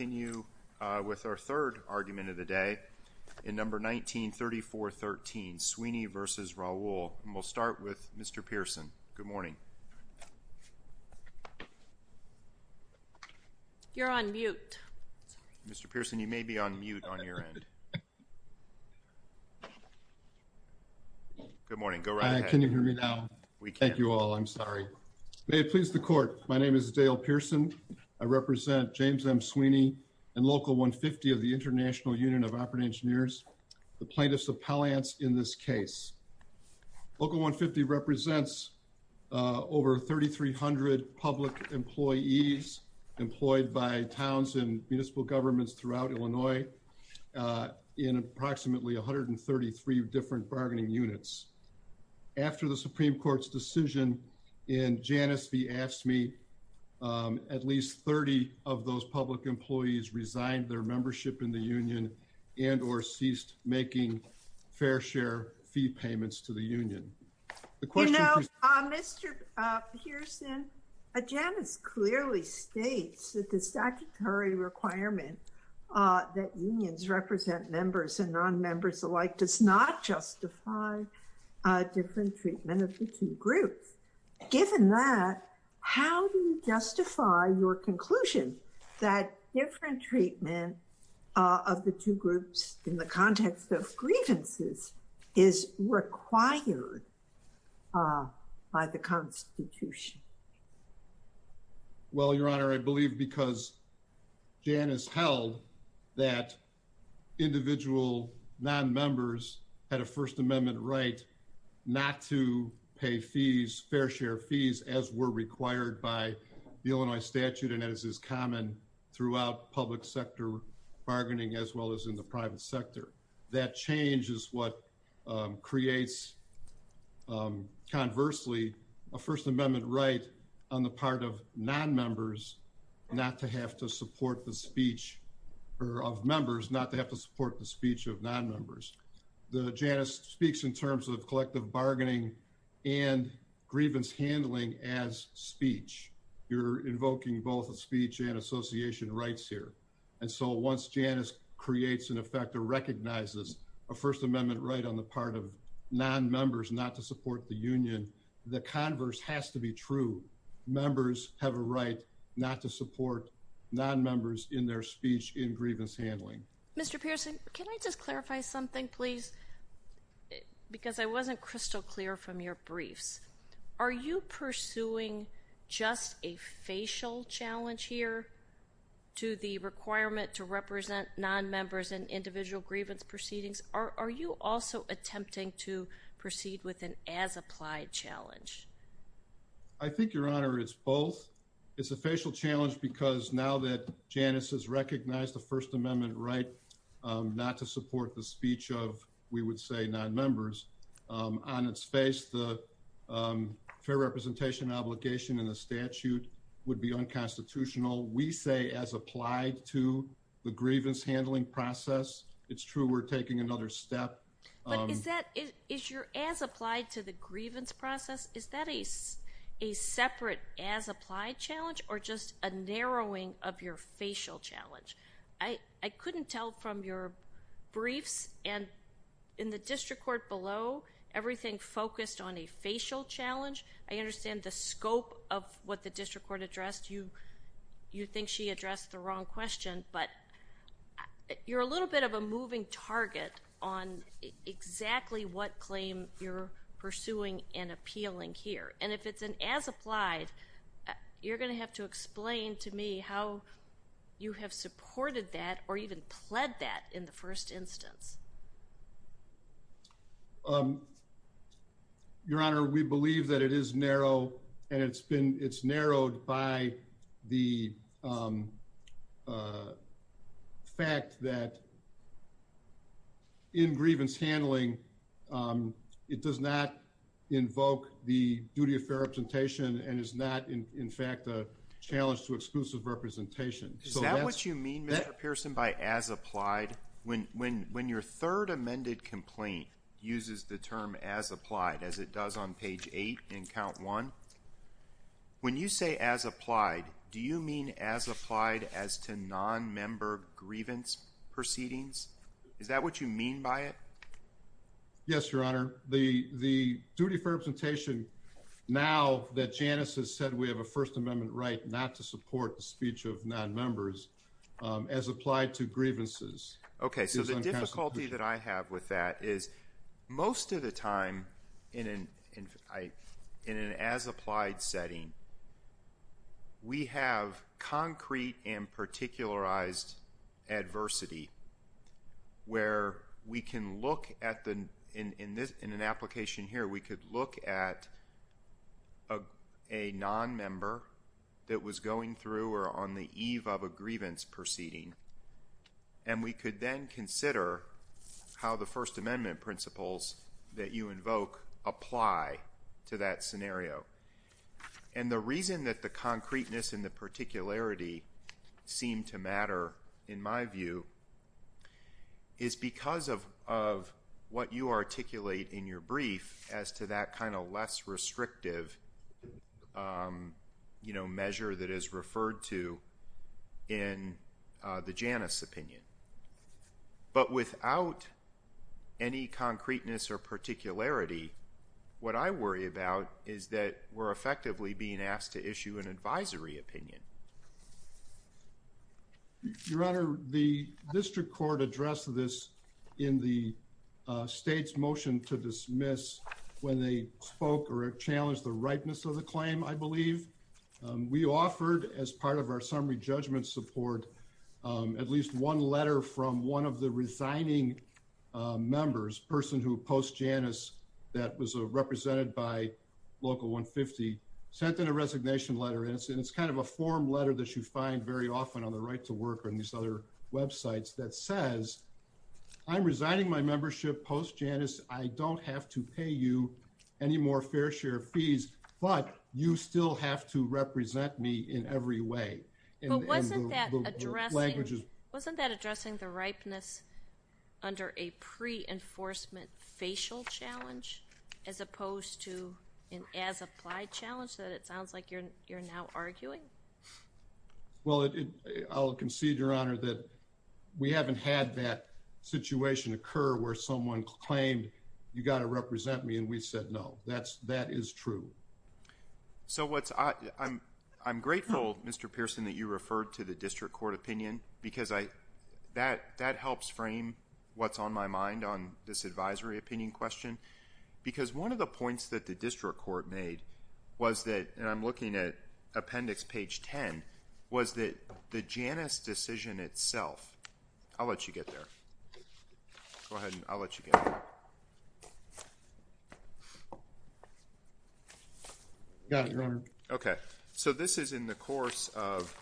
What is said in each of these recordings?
We will continue with our third argument of the day, in number 193413, Sweeney v. Raoul, and we'll start with Mr. Pearson. Good morning. You're on mute. Mr. Pearson, you may be on mute on your end. Good morning. Go right ahead. Can you hear me now? We can. Thank you all. I'm sorry. May it please the court. My name is Dale Pearson. I represent James M. Sweeney and Local 150 of the International Union of Operating Engineers, the plaintiffs' appellants in this case. Local 150 represents over 3,300 public employees employed by towns and municipal governments throughout Illinois in approximately 133 different bargaining units. After the Supreme Court's decision in Janus v. AFSCME, at least 30 of those public employees resigned their membership in the union and or ceased making fair share fee payments to the union. You know, Mr. Pearson, Janus clearly states that the statutory requirement that unions represent members and non-members alike does not justify different treatment of the two groups. Well, Your Honor, I believe because Janus held that individual non-members had a First Amendment right not to pay fair share fees as were required by the Illinois statute and as is common throughout public sector bargaining as well as in the private sector. That change is what creates, conversely, a First Amendment right on the part of non-members not to have to support the speech of members, not to have to support the speech of non-members. Janus speaks in terms of collective bargaining and grievance handling as speech. You're invoking both speech and association rights here. And so once Janus creates, in effect, or recognizes a First Amendment right on the part of non-members not to support the union, the converse has to be true. Members have a right not to support non-members in their speech in grievance handling. Mr. Pearson, can I just clarify something, please? Because I wasn't crystal clear from your briefs. Are you pursuing just a facial challenge here to the requirement to represent non-members in individual grievance proceedings? Are you also attempting to proceed with an as-applied challenge? I think, Your Honor, it's both. It's a facial challenge because now that Janus has recognized the First Amendment right not to support the speech of, we would say, non-members, on its face, the fair representation obligation in the statute would be unconstitutional. We say as applied to the grievance handling process. It's true we're taking another step. But is your as-applied to the grievance process, is that a separate as-applied challenge or just a narrowing of your facial challenge? I couldn't tell from your briefs and in the district court below, everything focused on a facial challenge. I understand the scope of what the district court addressed. You think she addressed the wrong question, but you're a little bit of a moving target on exactly what claim you're pursuing and appealing here. And if it's an as-applied, you're going to have to explain to me how you have supported that or even pled that in the first instance. Your Honor, we believe that it is narrow and it's narrowed by the fact that in grievance handling, it does not invoke the duty of fair representation and is not, in fact, a challenge to exclusive representation. Is that what you mean, Mr. Pearson, by as-applied? When your third amended complaint uses the term as-applied, as it does on page 8 in count 1, when you say as-applied, do you mean as-applied as to non-member grievance proceedings? Is that what you mean by it? Yes, Your Honor. The duty for representation now that Janice has said we have a First Amendment right not to support the speech of non-members as applied to grievances. Okay, so the difficulty that I have with that is most of the time in an as-applied setting, we have concrete and particularized adversity where we can look at the, in an application here, we could look at a non-member that was going through or on the eve of a grievance proceeding. And we could then consider how the First Amendment principles that you invoke apply to that scenario. And the reason that the concreteness and the particularity seem to matter, in my view, is because of what you articulate in your brief as to that kind of less restrictive measure that is referred to in the Janice opinion. But without any concreteness or particularity, what I worry about is that we're effectively being asked to issue an advisory opinion. Your Honor, the district court addressed this in the state's motion to dismiss when they spoke or challenged the ripeness of the claim, I believe. We offered, as part of our summary judgment support, at least one letter from one of the resigning members, a person who opposed Janice that was represented by Local 150, sent in a resignation letter. And it's kind of a form letter that you find very often on the Right to Work and these other websites that says, I'm resigning my membership post-Janice. I don't have to pay you any more fair share of fees, but you still have to represent me in every way. But wasn't that addressing the ripeness under a pre-enforcement facial challenge as opposed to an as-applied challenge that it sounds like you're now arguing? Well, I'll concede, Your Honor, that we haven't had that situation occur where someone claimed, you've got to represent me, and we said no. That is true. So I'm grateful, Mr. Pearson, that you referred to the district court opinion because that helps frame what's on my mind on this advisory opinion question. Because one of the points that the district court made was that, and I'm looking at appendix page 10, was that the Janice decision itself, I'll let you get there. Go ahead and I'll let you get there. Got it, Your Honor. Okay. So this is in the course of,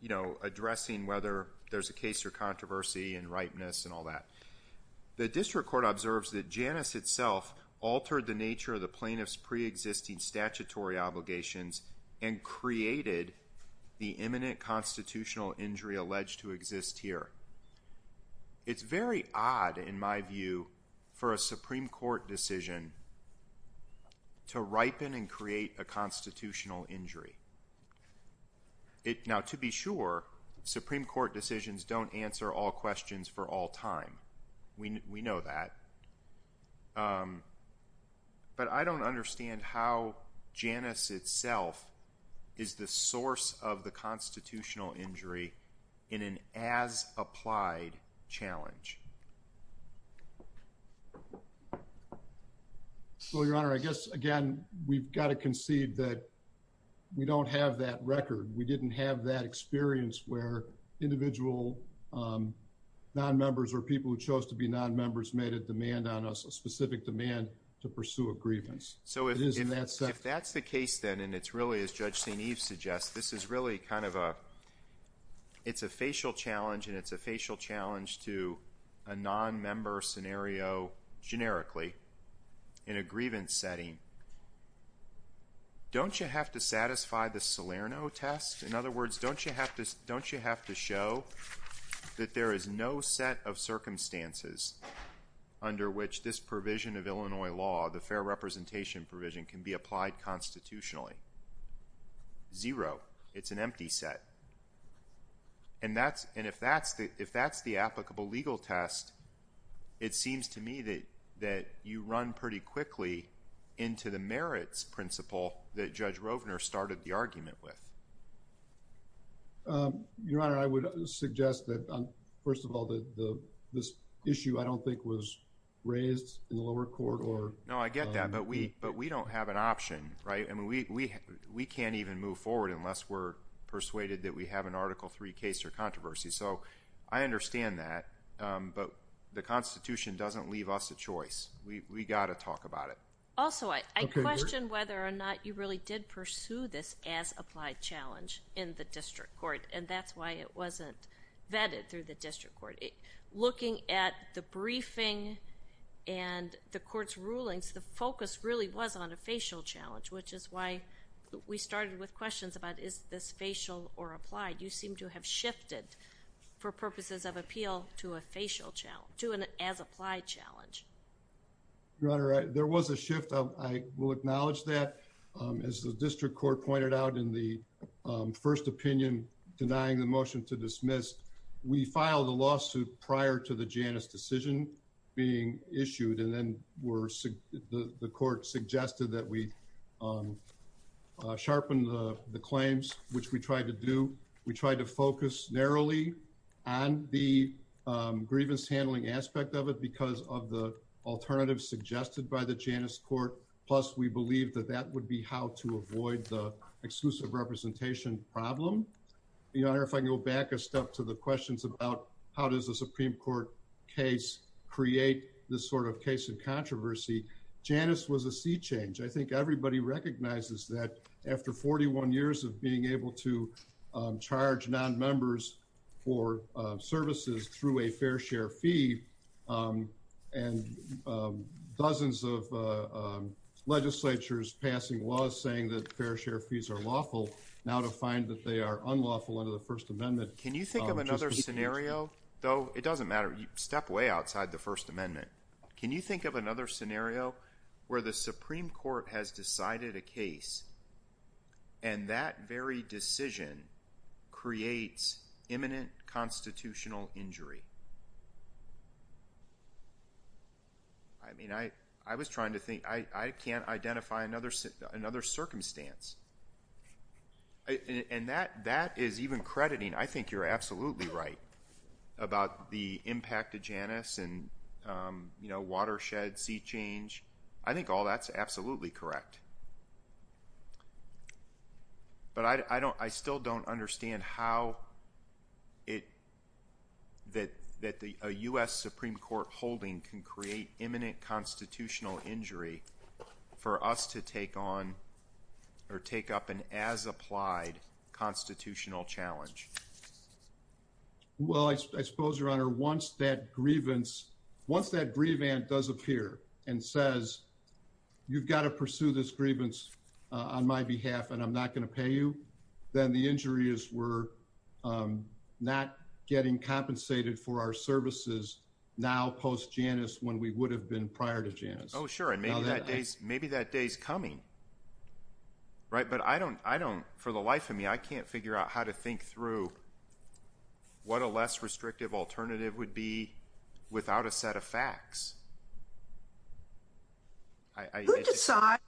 you know, addressing whether there's a case or controversy and ripeness and all that. The district court observes that Janice itself altered the nature of the plaintiff's pre-existing statutory obligations and created the imminent constitutional injury alleged to exist here. It's very odd, in my view, for a Supreme Court decision to ripen and create a constitutional injury. Now, to be sure, Supreme Court decisions don't answer all questions for all time. We know that. But I don't understand how Janice itself is the source of the constitutional injury in an as-applied challenge. Well, Your Honor, I guess, again, we've got to concede that we don't have that record. We didn't have that experience where individual non-members or people who chose to be non-members made a demand on us, a specific demand to pursue a grievance. So if that's the case, then, and it's really, as Judge St. Eve suggests, this is really kind of a facial challenge, and it's a facial challenge to a non-member scenario generically in a grievance setting, don't you have to satisfy the Salerno test? In other words, don't you have to show that there is no set of circumstances under which this provision of Illinois law, the fair representation provision, can be applied constitutionally? Zero. It's an empty set. And if that's the applicable legal test, it seems to me that you run pretty quickly into the merits principle that Judge Rovner started the argument with. Your Honor, I would suggest that, first of all, this issue I don't think was raised in the lower court or… …that we have an Article III case or controversy. So I understand that, but the Constitution doesn't leave us a choice. We've got to talk about it. Also, I question whether or not you really did pursue this as applied challenge in the district court, and that's why it wasn't vetted through the district court. Looking at the briefing and the court's rulings, the focus really was on a facial challenge, which is why we started with questions about is this facial or applied. You seem to have shifted, for purposes of appeal, to a facial challenge, to an as applied challenge. Your Honor, there was a shift. I will acknowledge that. As the district court pointed out in the first opinion, denying the motion to dismiss, we filed a lawsuit prior to the Janus decision being issued. And then the court suggested that we sharpen the claims, which we tried to do. We focused heavily on the grievance handling aspect of it because of the alternative suggested by the Janus court, plus we believed that that would be how to avoid the exclusive representation problem. Your Honor, if I can go back a step to the questions about how does a Supreme Court case create this sort of case of controversy? Janus was a sea change. I think everybody recognizes that after 41 years of being able to charge nonmembers for services through a fair share fee, and dozens of legislatures passing laws saying that fair share fees are lawful, now to find that they are unlawful under the First Amendment. Can you think of another scenario? It doesn't matter. Step way outside the First Amendment. Can you think of another scenario where the Supreme Court has decided a case and that very decision creates imminent constitutional injury? I mean, I was trying to think. I can't identify another circumstance. And that is even crediting. I think you're absolutely right about the impact of Janus and, you know, watershed, sea change. I think all that's absolutely correct. But I don't I still don't understand how it that that the U.S. Supreme Court holding can create imminent constitutional injury for us to take on or take up an as applied constitutional challenge. Well, I suppose your honor, once that grievance, once that grievance does appear and says you've got to pursue this grievance on my behalf and I'm not going to pay you, then the injuries were not getting compensated for our services. Now, post Janus, when we would have been prior to Janus. Oh, sure. And maybe that day's maybe that day's coming. Right. But I don't I don't for the life of me, I can't figure out how to think through. What a less restrictive alternative would be without a set of facts. I decide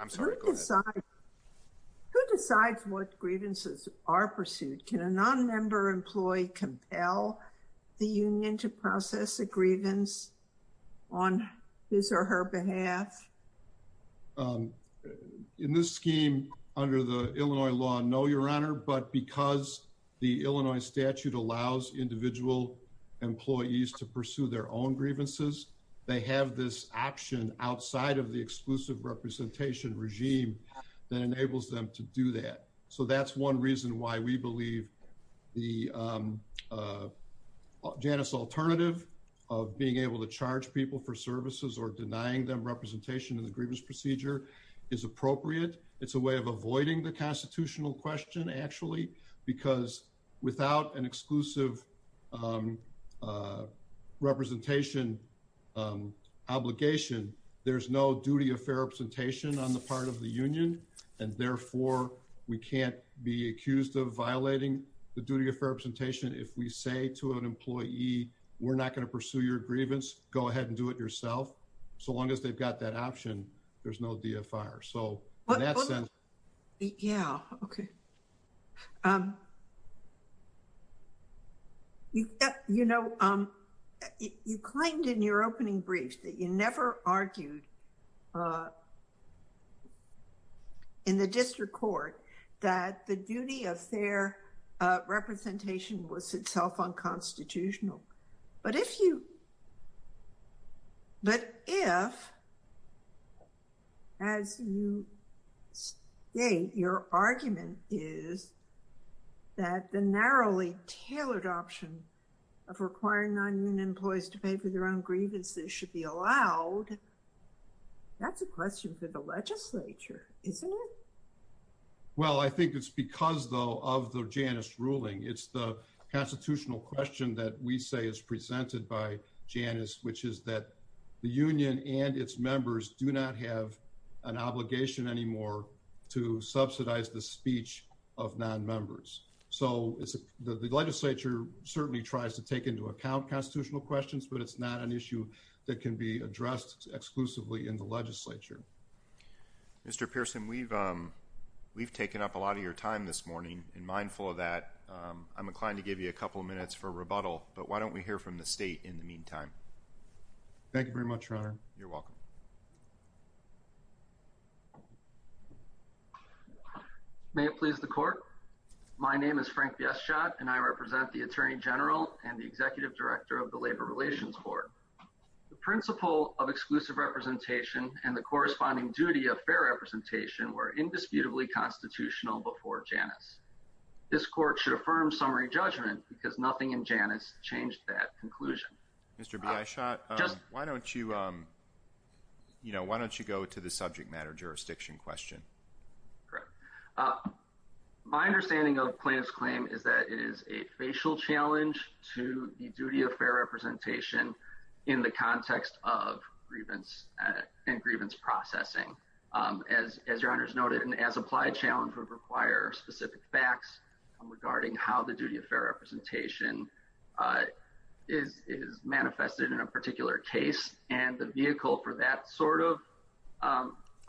I'm sorry. Who decides what grievances are pursued? Can a nonmember employee compel the union to process a grievance on his or her behalf? In this scheme under the Illinois law. No, your honor. But because the Illinois statute allows individual employees to pursue their own grievances, they have this option outside of the exclusive representation regime that enables them to do that. So that's one reason why we believe the Janus alternative of being able to charge people for services or denying them representation in the grievance procedure is appropriate. It's a way of avoiding the constitutional question, actually, because without an exclusive representation obligation, there's no duty of fair representation on the part of the union. And therefore, we can't be accused of violating the duty of representation. If we say to an employee, we're not going to pursue your grievance, go ahead and do it yourself. So long as they've got that option, there's no fire. Yeah. Okay. You know, you claimed in your opening brief that you never argued in the district court that the duty of fair representation was itself unconstitutional. But if, as you state, your argument is that the narrowly tailored option of requiring non-union employees to pay for their own grievances should be allowed, that's a question for the legislature, isn't it? Well, I think it's because, though, of the Janus ruling, it's the constitutional question that we say is presented by Janus, which is that the union and its members do not have an obligation anymore to subsidize the speech of non-members. So the legislature certainly tries to take into account constitutional questions, but it's not an issue that can be addressed exclusively in the legislature. Mr. Pearson, we've taken up a lot of your time this morning, and mindful of that, I'm inclined to give you a couple of minutes for rebuttal. But why don't we hear from the state in the meantime? Thank you very much, Your Honor. You're welcome. May it please the court, my name is Frank Bieschott, and I represent the Attorney General and the Executive Director of the Labor Relations Board. The principle of exclusive representation and the corresponding duty of fair representation were indisputably constitutional before Janus. This court should affirm summary judgment because nothing in Janus changed that conclusion. Mr. Bieschott, why don't you go to the subject matter jurisdiction question? My understanding of plaintiff's claim is that it is a facial challenge to the duty of fair representation in the context of grievance and grievance processing. As Your Honor has noted, an as-applied challenge would require specific facts regarding how the duty of fair representation is manifested in a particular case. And the vehicle for that sort of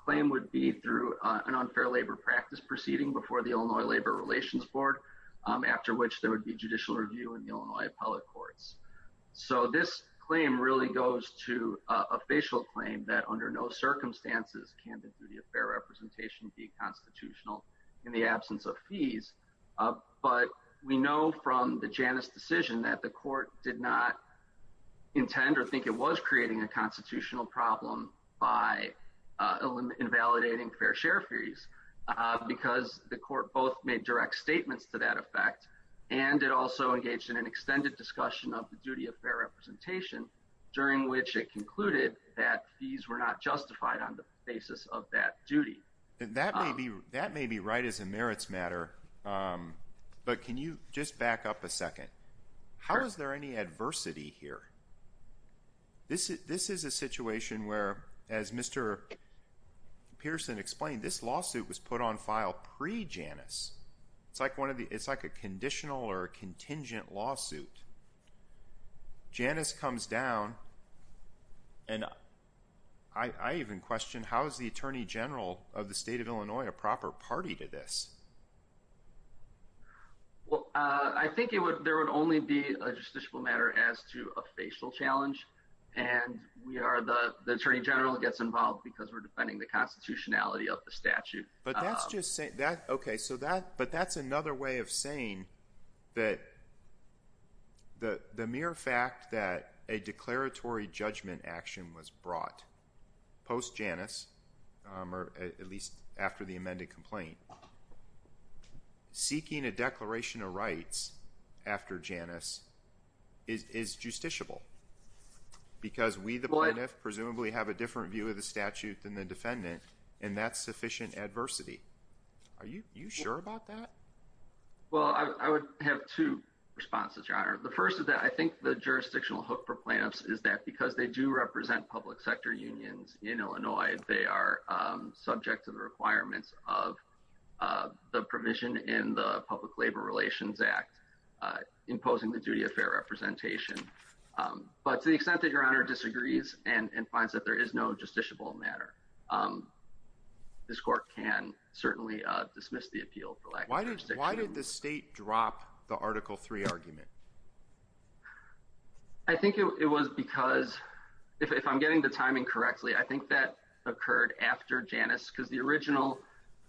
claim would be through an unfair labor practice proceeding before the Illinois Labor Relations Board, after which there would be judicial review in the Illinois appellate courts. So this claim really goes to a facial claim that under no circumstances can the duty of fair representation be constitutional in the absence of fees. But we know from the Janus decision that the court did not intend or think it was creating a constitutional problem by invalidating fair share fees, because the court both made direct statements to that effect, and it also engaged in an extended discussion of the duty of fair representation, during which it concluded that fees were not justified on the basis of that duty. That may be right as a merits matter, but can you just back up a second? How is there any adversity here? This is a situation where, as Mr. Pearson explained, this lawsuit was put on file pre-Janus. It's like a conditional or contingent lawsuit. Janus comes down, and I even question how is the Attorney General of the state of Illinois a proper party to this? I think there would only be a justiciable matter as to a facial challenge, and the Attorney General gets involved because we're defending the constitutionality of the statute. But that's another way of saying that the mere fact that a declaratory judgment action was brought post-Janus, or at least after the amended complaint, seeking a declaration of rights after Janus is justiciable, because we the plaintiff presumably have a different view of the statute than the defendant, and that's sufficient adversity. Are you sure about that? Well, I would have two responses, Your Honor. The first is that I think the jurisdictional hook for plaintiffs is that because they do represent public sector unions in Illinois, they are subject to the requirements of the provision in the Public Labor Relations Act imposing the duty of fair representation. But to the extent that Your Honor disagrees and finds that there is no justiciable matter, this court can certainly dismiss the appeal for lack of justiciation. Why did the state drop the Article III argument? I think it was because, if I'm getting the timing correctly, I think that occurred after Janus, because the original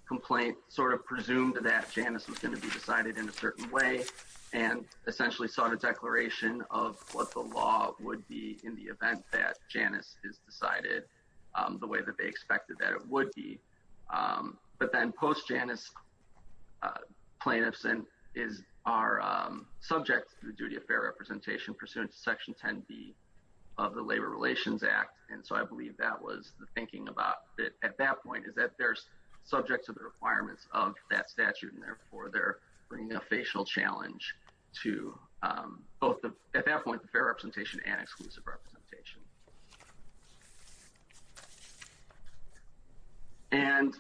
complaint sort of presumed that Janus was going to be decided in a certain way and essentially sought a declaration of what the law would be in the event that Janus is decided the way that they expected that it would be. But then post-Janus, plaintiffs are subject to the duty of fair representation pursuant to Section 10B of the Labor Relations Act. And so I believe that was the thinking at that point is that they're subject to the requirements of that statute, and therefore they're bringing a facial challenge to both, at that point, the fair representation and exclusive representation. And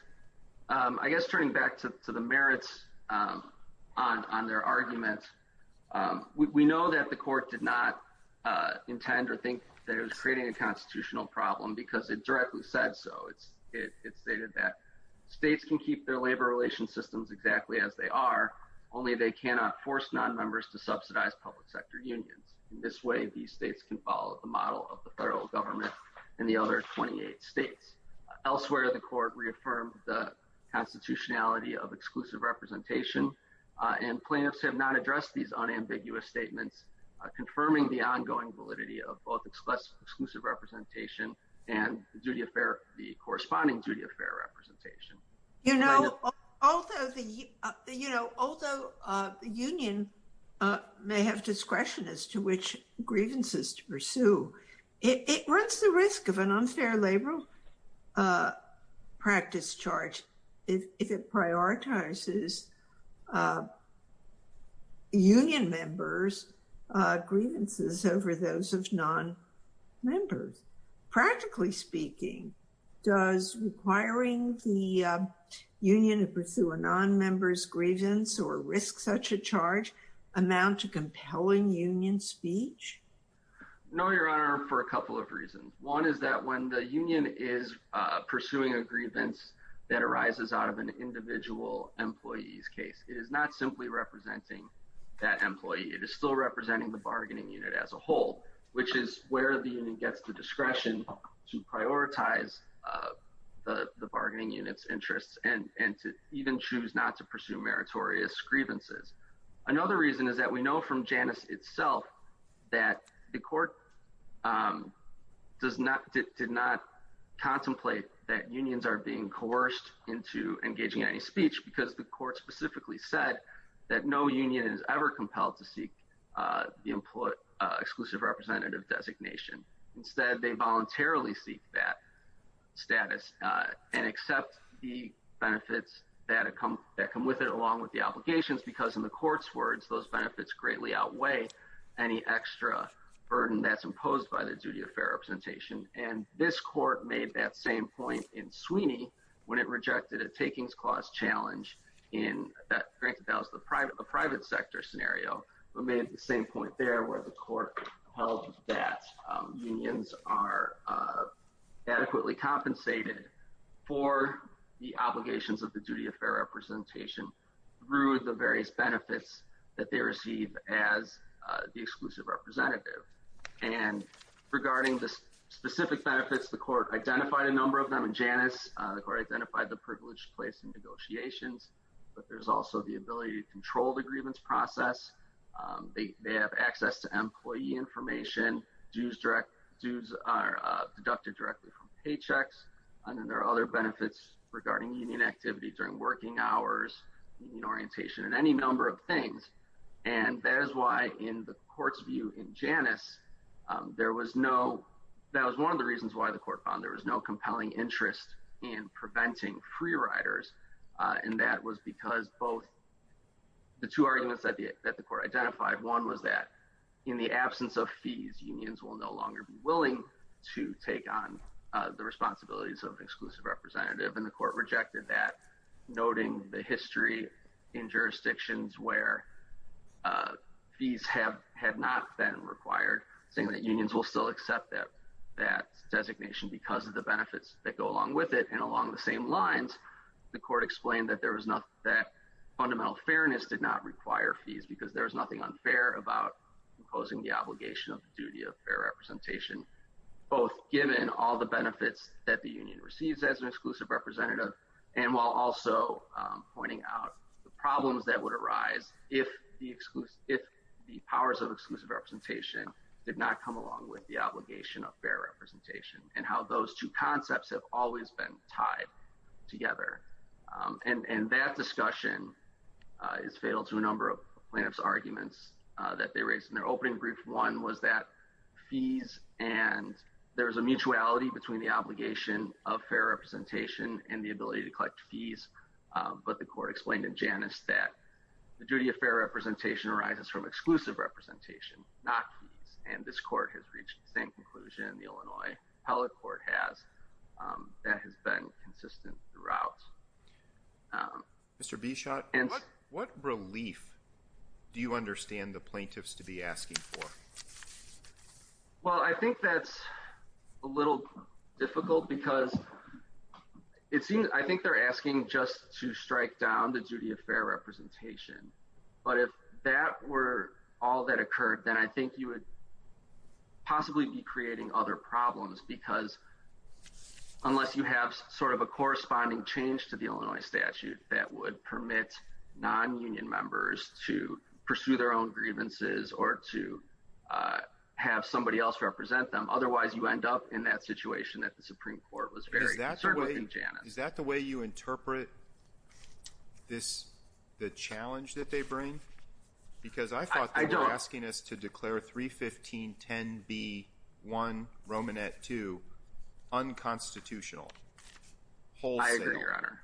I guess turning back to the merits on their argument, we know that the court did not intend or think that it was creating a constitutional problem because it directly said so. It stated that states can keep their labor relations systems exactly as they are, only they cannot force nonmembers to subsidize public sector unions. In this way, these states can follow the model of the federal government and the other 28 states. Elsewhere, the court reaffirmed the constitutionality of exclusive representation, and plaintiffs have not addressed these unambiguous statements, confirming the ongoing validity of both exclusive representation and the corresponding duty of fair representation. You know, although the union may have discretion as to which grievances to pursue, it runs the risk of an unfair labor practice charge if it prioritizes union members' grievances over those of nonmembers. Practically speaking, does requiring the union to pursue a nonmember's grievance or risk such a charge amount to compelling union speech? No, Your Honor, for a couple of reasons. One is that when the union is pursuing a grievance that arises out of an individual employee's case, it is not simply representing that employee. It is still representing the bargaining unit as a whole, which is where the union gets the discretion to prioritize the bargaining unit's interests and to even choose not to pursue meritorious grievances. Another reason is that we know from Janus itself that the court did not contemplate that unions are being coerced into engaging any speech because the court specifically said that no union is ever compelled to seek the exclusive representative designation. Instead, they voluntarily seek that status and accept the benefits that come with it along with the obligations because in the court's words, those benefits greatly outweigh any extra burden that's imposed by the duty of fair representation. And this court made that same point in Sweeney when it rejected a takings clause challenge in the private sector scenario. It made the same point there where the court held that unions are adequately compensated for the obligations of the duty of fair representation through the various benefits that they receive as the exclusive representative. And regarding the specific benefits, the court identified a number of them in Janus. The court identified the privilege placed in negotiations, but there's also the ability to control the grievance process. They have access to employee information. Dues are deducted directly from paychecks. And then there are other benefits regarding union activity during working hours, union orientation, and any number of things. And that is why in the court's view in Janus, that was one of the reasons why the court found there was no compelling interest in preventing free riders. And that was because both the two arguments that the court identified, one was that in the absence of fees, unions will no longer be willing to take on the responsibilities of exclusive representative. And the court rejected that, noting the history in jurisdictions where fees have not been required, saying that unions will still accept that designation because of the benefits that go along with it. And along the same lines, the court explained that fundamental fairness did not require fees because there was nothing unfair about imposing the obligation of the duty of fair representation, both given all the benefits that the union receives as an exclusive representative, and while also pointing out the problems that would arise if the powers of exclusive representation did not come along with the obligation of fair representation and how those two concepts have always been tied together. And that discussion is fatal to a number of plaintiff's arguments that they raised in their opening brief. One was that fees and there is a mutuality between the obligation of fair representation and the ability to collect fees. But the court explained in Janus that the duty of fair representation arises from exclusive representation, not fees. And this court has reached the same conclusion, the Illinois appellate court has, that has been consistent throughout. Mr. Bichotte, what relief do you understand the plaintiffs to be asking for? Well, I think that's a little difficult because it seems I think they're asking just to strike down the duty of fair representation. But if that were all that occurred, then I think you would possibly be creating other problems because unless you have sort of a corresponding change to the Illinois statute that would permit non-union members to pursue their own grievances or to have somebody else represent them, otherwise you end up in that situation that the Supreme Court was very conservative in Janus. Is that the way you interpret this, the challenge that they bring? Because I thought they were asking us to declare 31510B1 Romanet 2 unconstitutional, wholesale. I agree, Your Honor.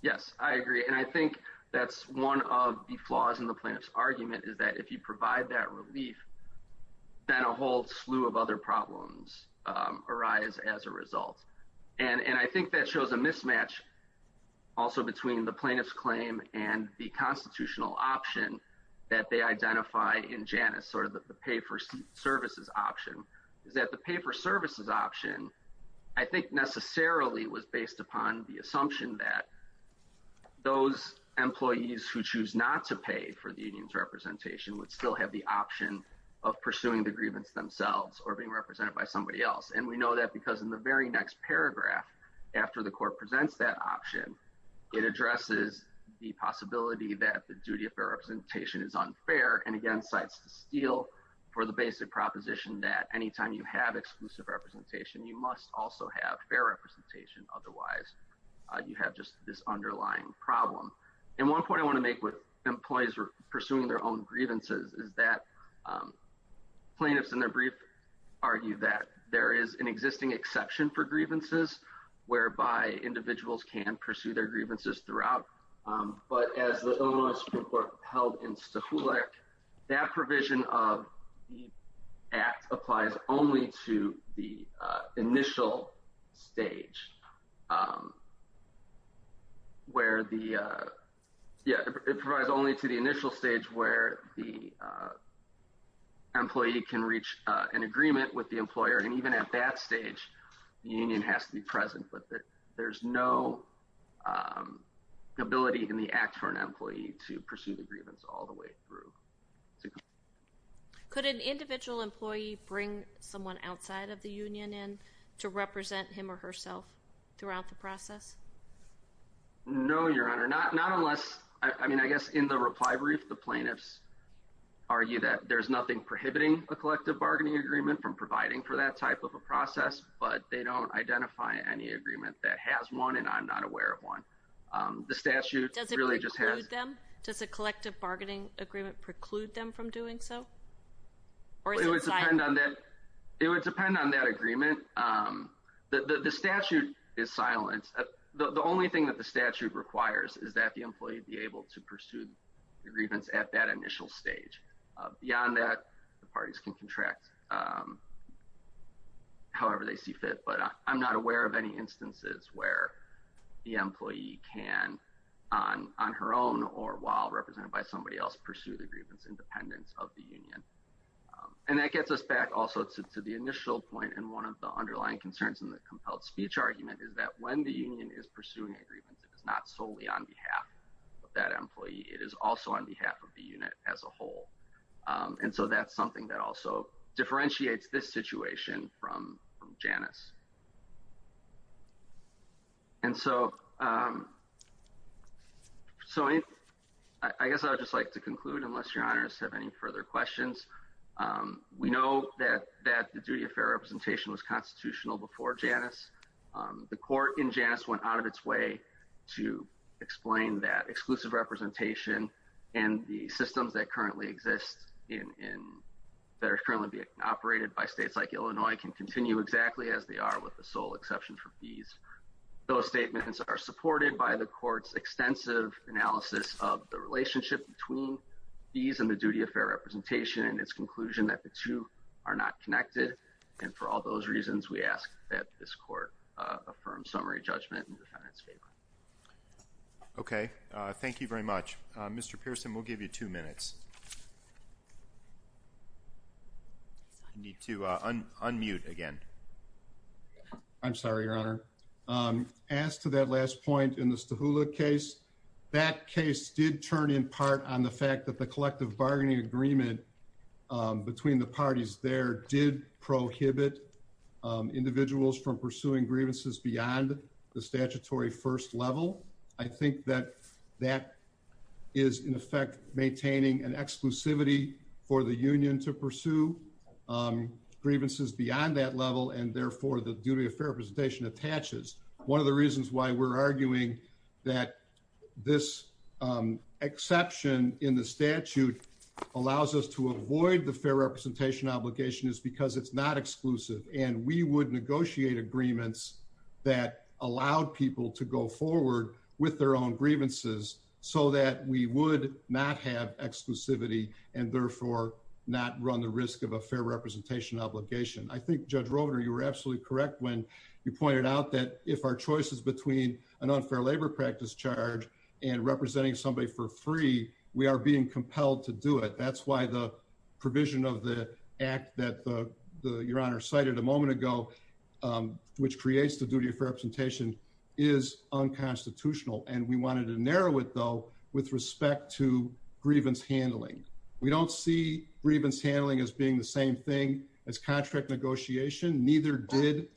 Yes, I agree. And I think that's one of the flaws in the plaintiff's argument is that if you provide that relief, then a whole slew of other problems arise as a result. And I think that shows a mismatch also between the plaintiff's claim and the constitutional option that they identify in Janus or the pay for services option is that the pay for services option, I think necessarily was based upon the assumption that those employees who choose not to pay for the union's representation would still have the option of pursuing the grievance themselves or being represented by somebody else. And we know that because in the very next paragraph, after the court presents that option, it addresses the possibility that the duty of representation is unfair and again, cites the steal for the basic proposition that anytime you have exclusive representation, you must also have fair representation. Otherwise, you have just this underlying problem. And one point I want to make with employees pursuing their own grievances is that plaintiffs in their brief argue that there is an existing exception for grievances whereby individuals can pursue their grievances throughout. But as the Illinois Supreme Court held in Stuhleck, that provision of the act applies only to the initial stage where the, yeah, it provides only to the initial stage where the employee can reach an agreement with the employer. And even at that stage, the union has to be present with it. There's no ability in the act for an employee to pursue the grievance all the way through. Could an individual employee bring someone outside of the union in to represent him or herself throughout the process? No, Your Honor. Not unless, I mean, I guess in the reply brief, the plaintiffs argue that there's nothing prohibiting a collective bargaining agreement from providing for that type of a process, but they don't identify any agreement that has one and I'm not aware of one. Does it preclude them? Does a collective bargaining agreement preclude them from doing so? It would depend on that agreement. The statute is silent. The only thing that the statute requires is that the employee be able to pursue the grievance at that initial stage. Beyond that, the parties can contract however they see fit. But I'm not aware of any instances where the employee can, on her own or while represented by somebody else, pursue the grievance independence of the union. And that gets us back also to the initial point and one of the underlying concerns in the compelled speech argument is that when the union is pursuing a grievance, it is not solely on behalf of that employee. It is also on behalf of the unit as a whole. And so that's something that also differentiates this situation from Janice. And so, so I guess I would just like to conclude, unless Your Honors have any further questions. We know that that the duty of fair representation was constitutional before Janice. The court in Janice went out of its way to explain that exclusive representation and the systems that currently exist in that are currently being operated by states like Illinois can continue exactly as they are with the sole exception for these. Those statements are supported by the court's extensive analysis of the relationship between these and the duty of fair representation and its conclusion that the two are not connected. And for all those reasons, we ask that this court affirm summary judgment in the defendant's favor. Okay. Thank you very much. Mr. Pearson, we'll give you two minutes. I need to unmute again. I'm sorry, Your Honor. As to that last point in the Stahula case, that case did turn in part on the fact that the collective bargaining agreement between the parties there did prohibit individuals from pursuing grievances beyond the statutory first level. I think that that is, in effect, maintaining an exclusivity for the union to pursue grievances beyond that level. And therefore, the duty of fair representation attaches. One of the reasons why we're arguing that this exception in the statute allows us to avoid the fair representation obligation is because it's not exclusive. And we would negotiate agreements that allowed people to go forward with their own grievances so that we would not have exclusivity and therefore not run the risk of a fair representation obligation. I think Judge Rovner, you were absolutely correct when you pointed out that if our choices between an unfair labor practice charge and representing somebody for free, we are being compelled to do it. That's why the provision of the act that Your Honor cited a moment ago, which creates the duty of fair representation, is unconstitutional. And we wanted to narrow it, though, with respect to grievance handling. We don't see grievance handling as being the same thing as contract negotiation. Neither did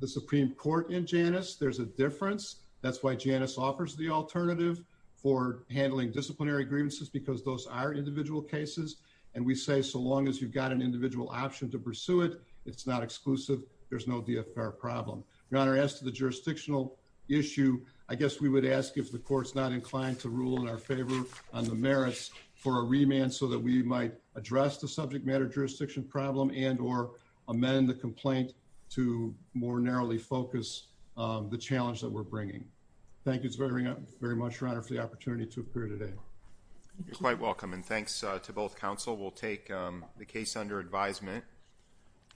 the Supreme Court in Janus. There's a difference. That's why Janus offers the alternative for handling disciplinary grievances, because those are individual cases. And we say so long as you've got an individual option to pursue it, it's not exclusive. There's no DFR problem. Your Honor, as to the jurisdictional issue, I guess we would ask if the court's not inclined to rule in our favor on the merits for a remand so that we might address the subject matter jurisdiction problem and or amend the complaint to more narrowly focus the challenge that we're bringing. Thank you very much, Your Honor, for the opportunity to appear today. You're quite welcome. And thanks to both counsel. We'll take the case under advisement.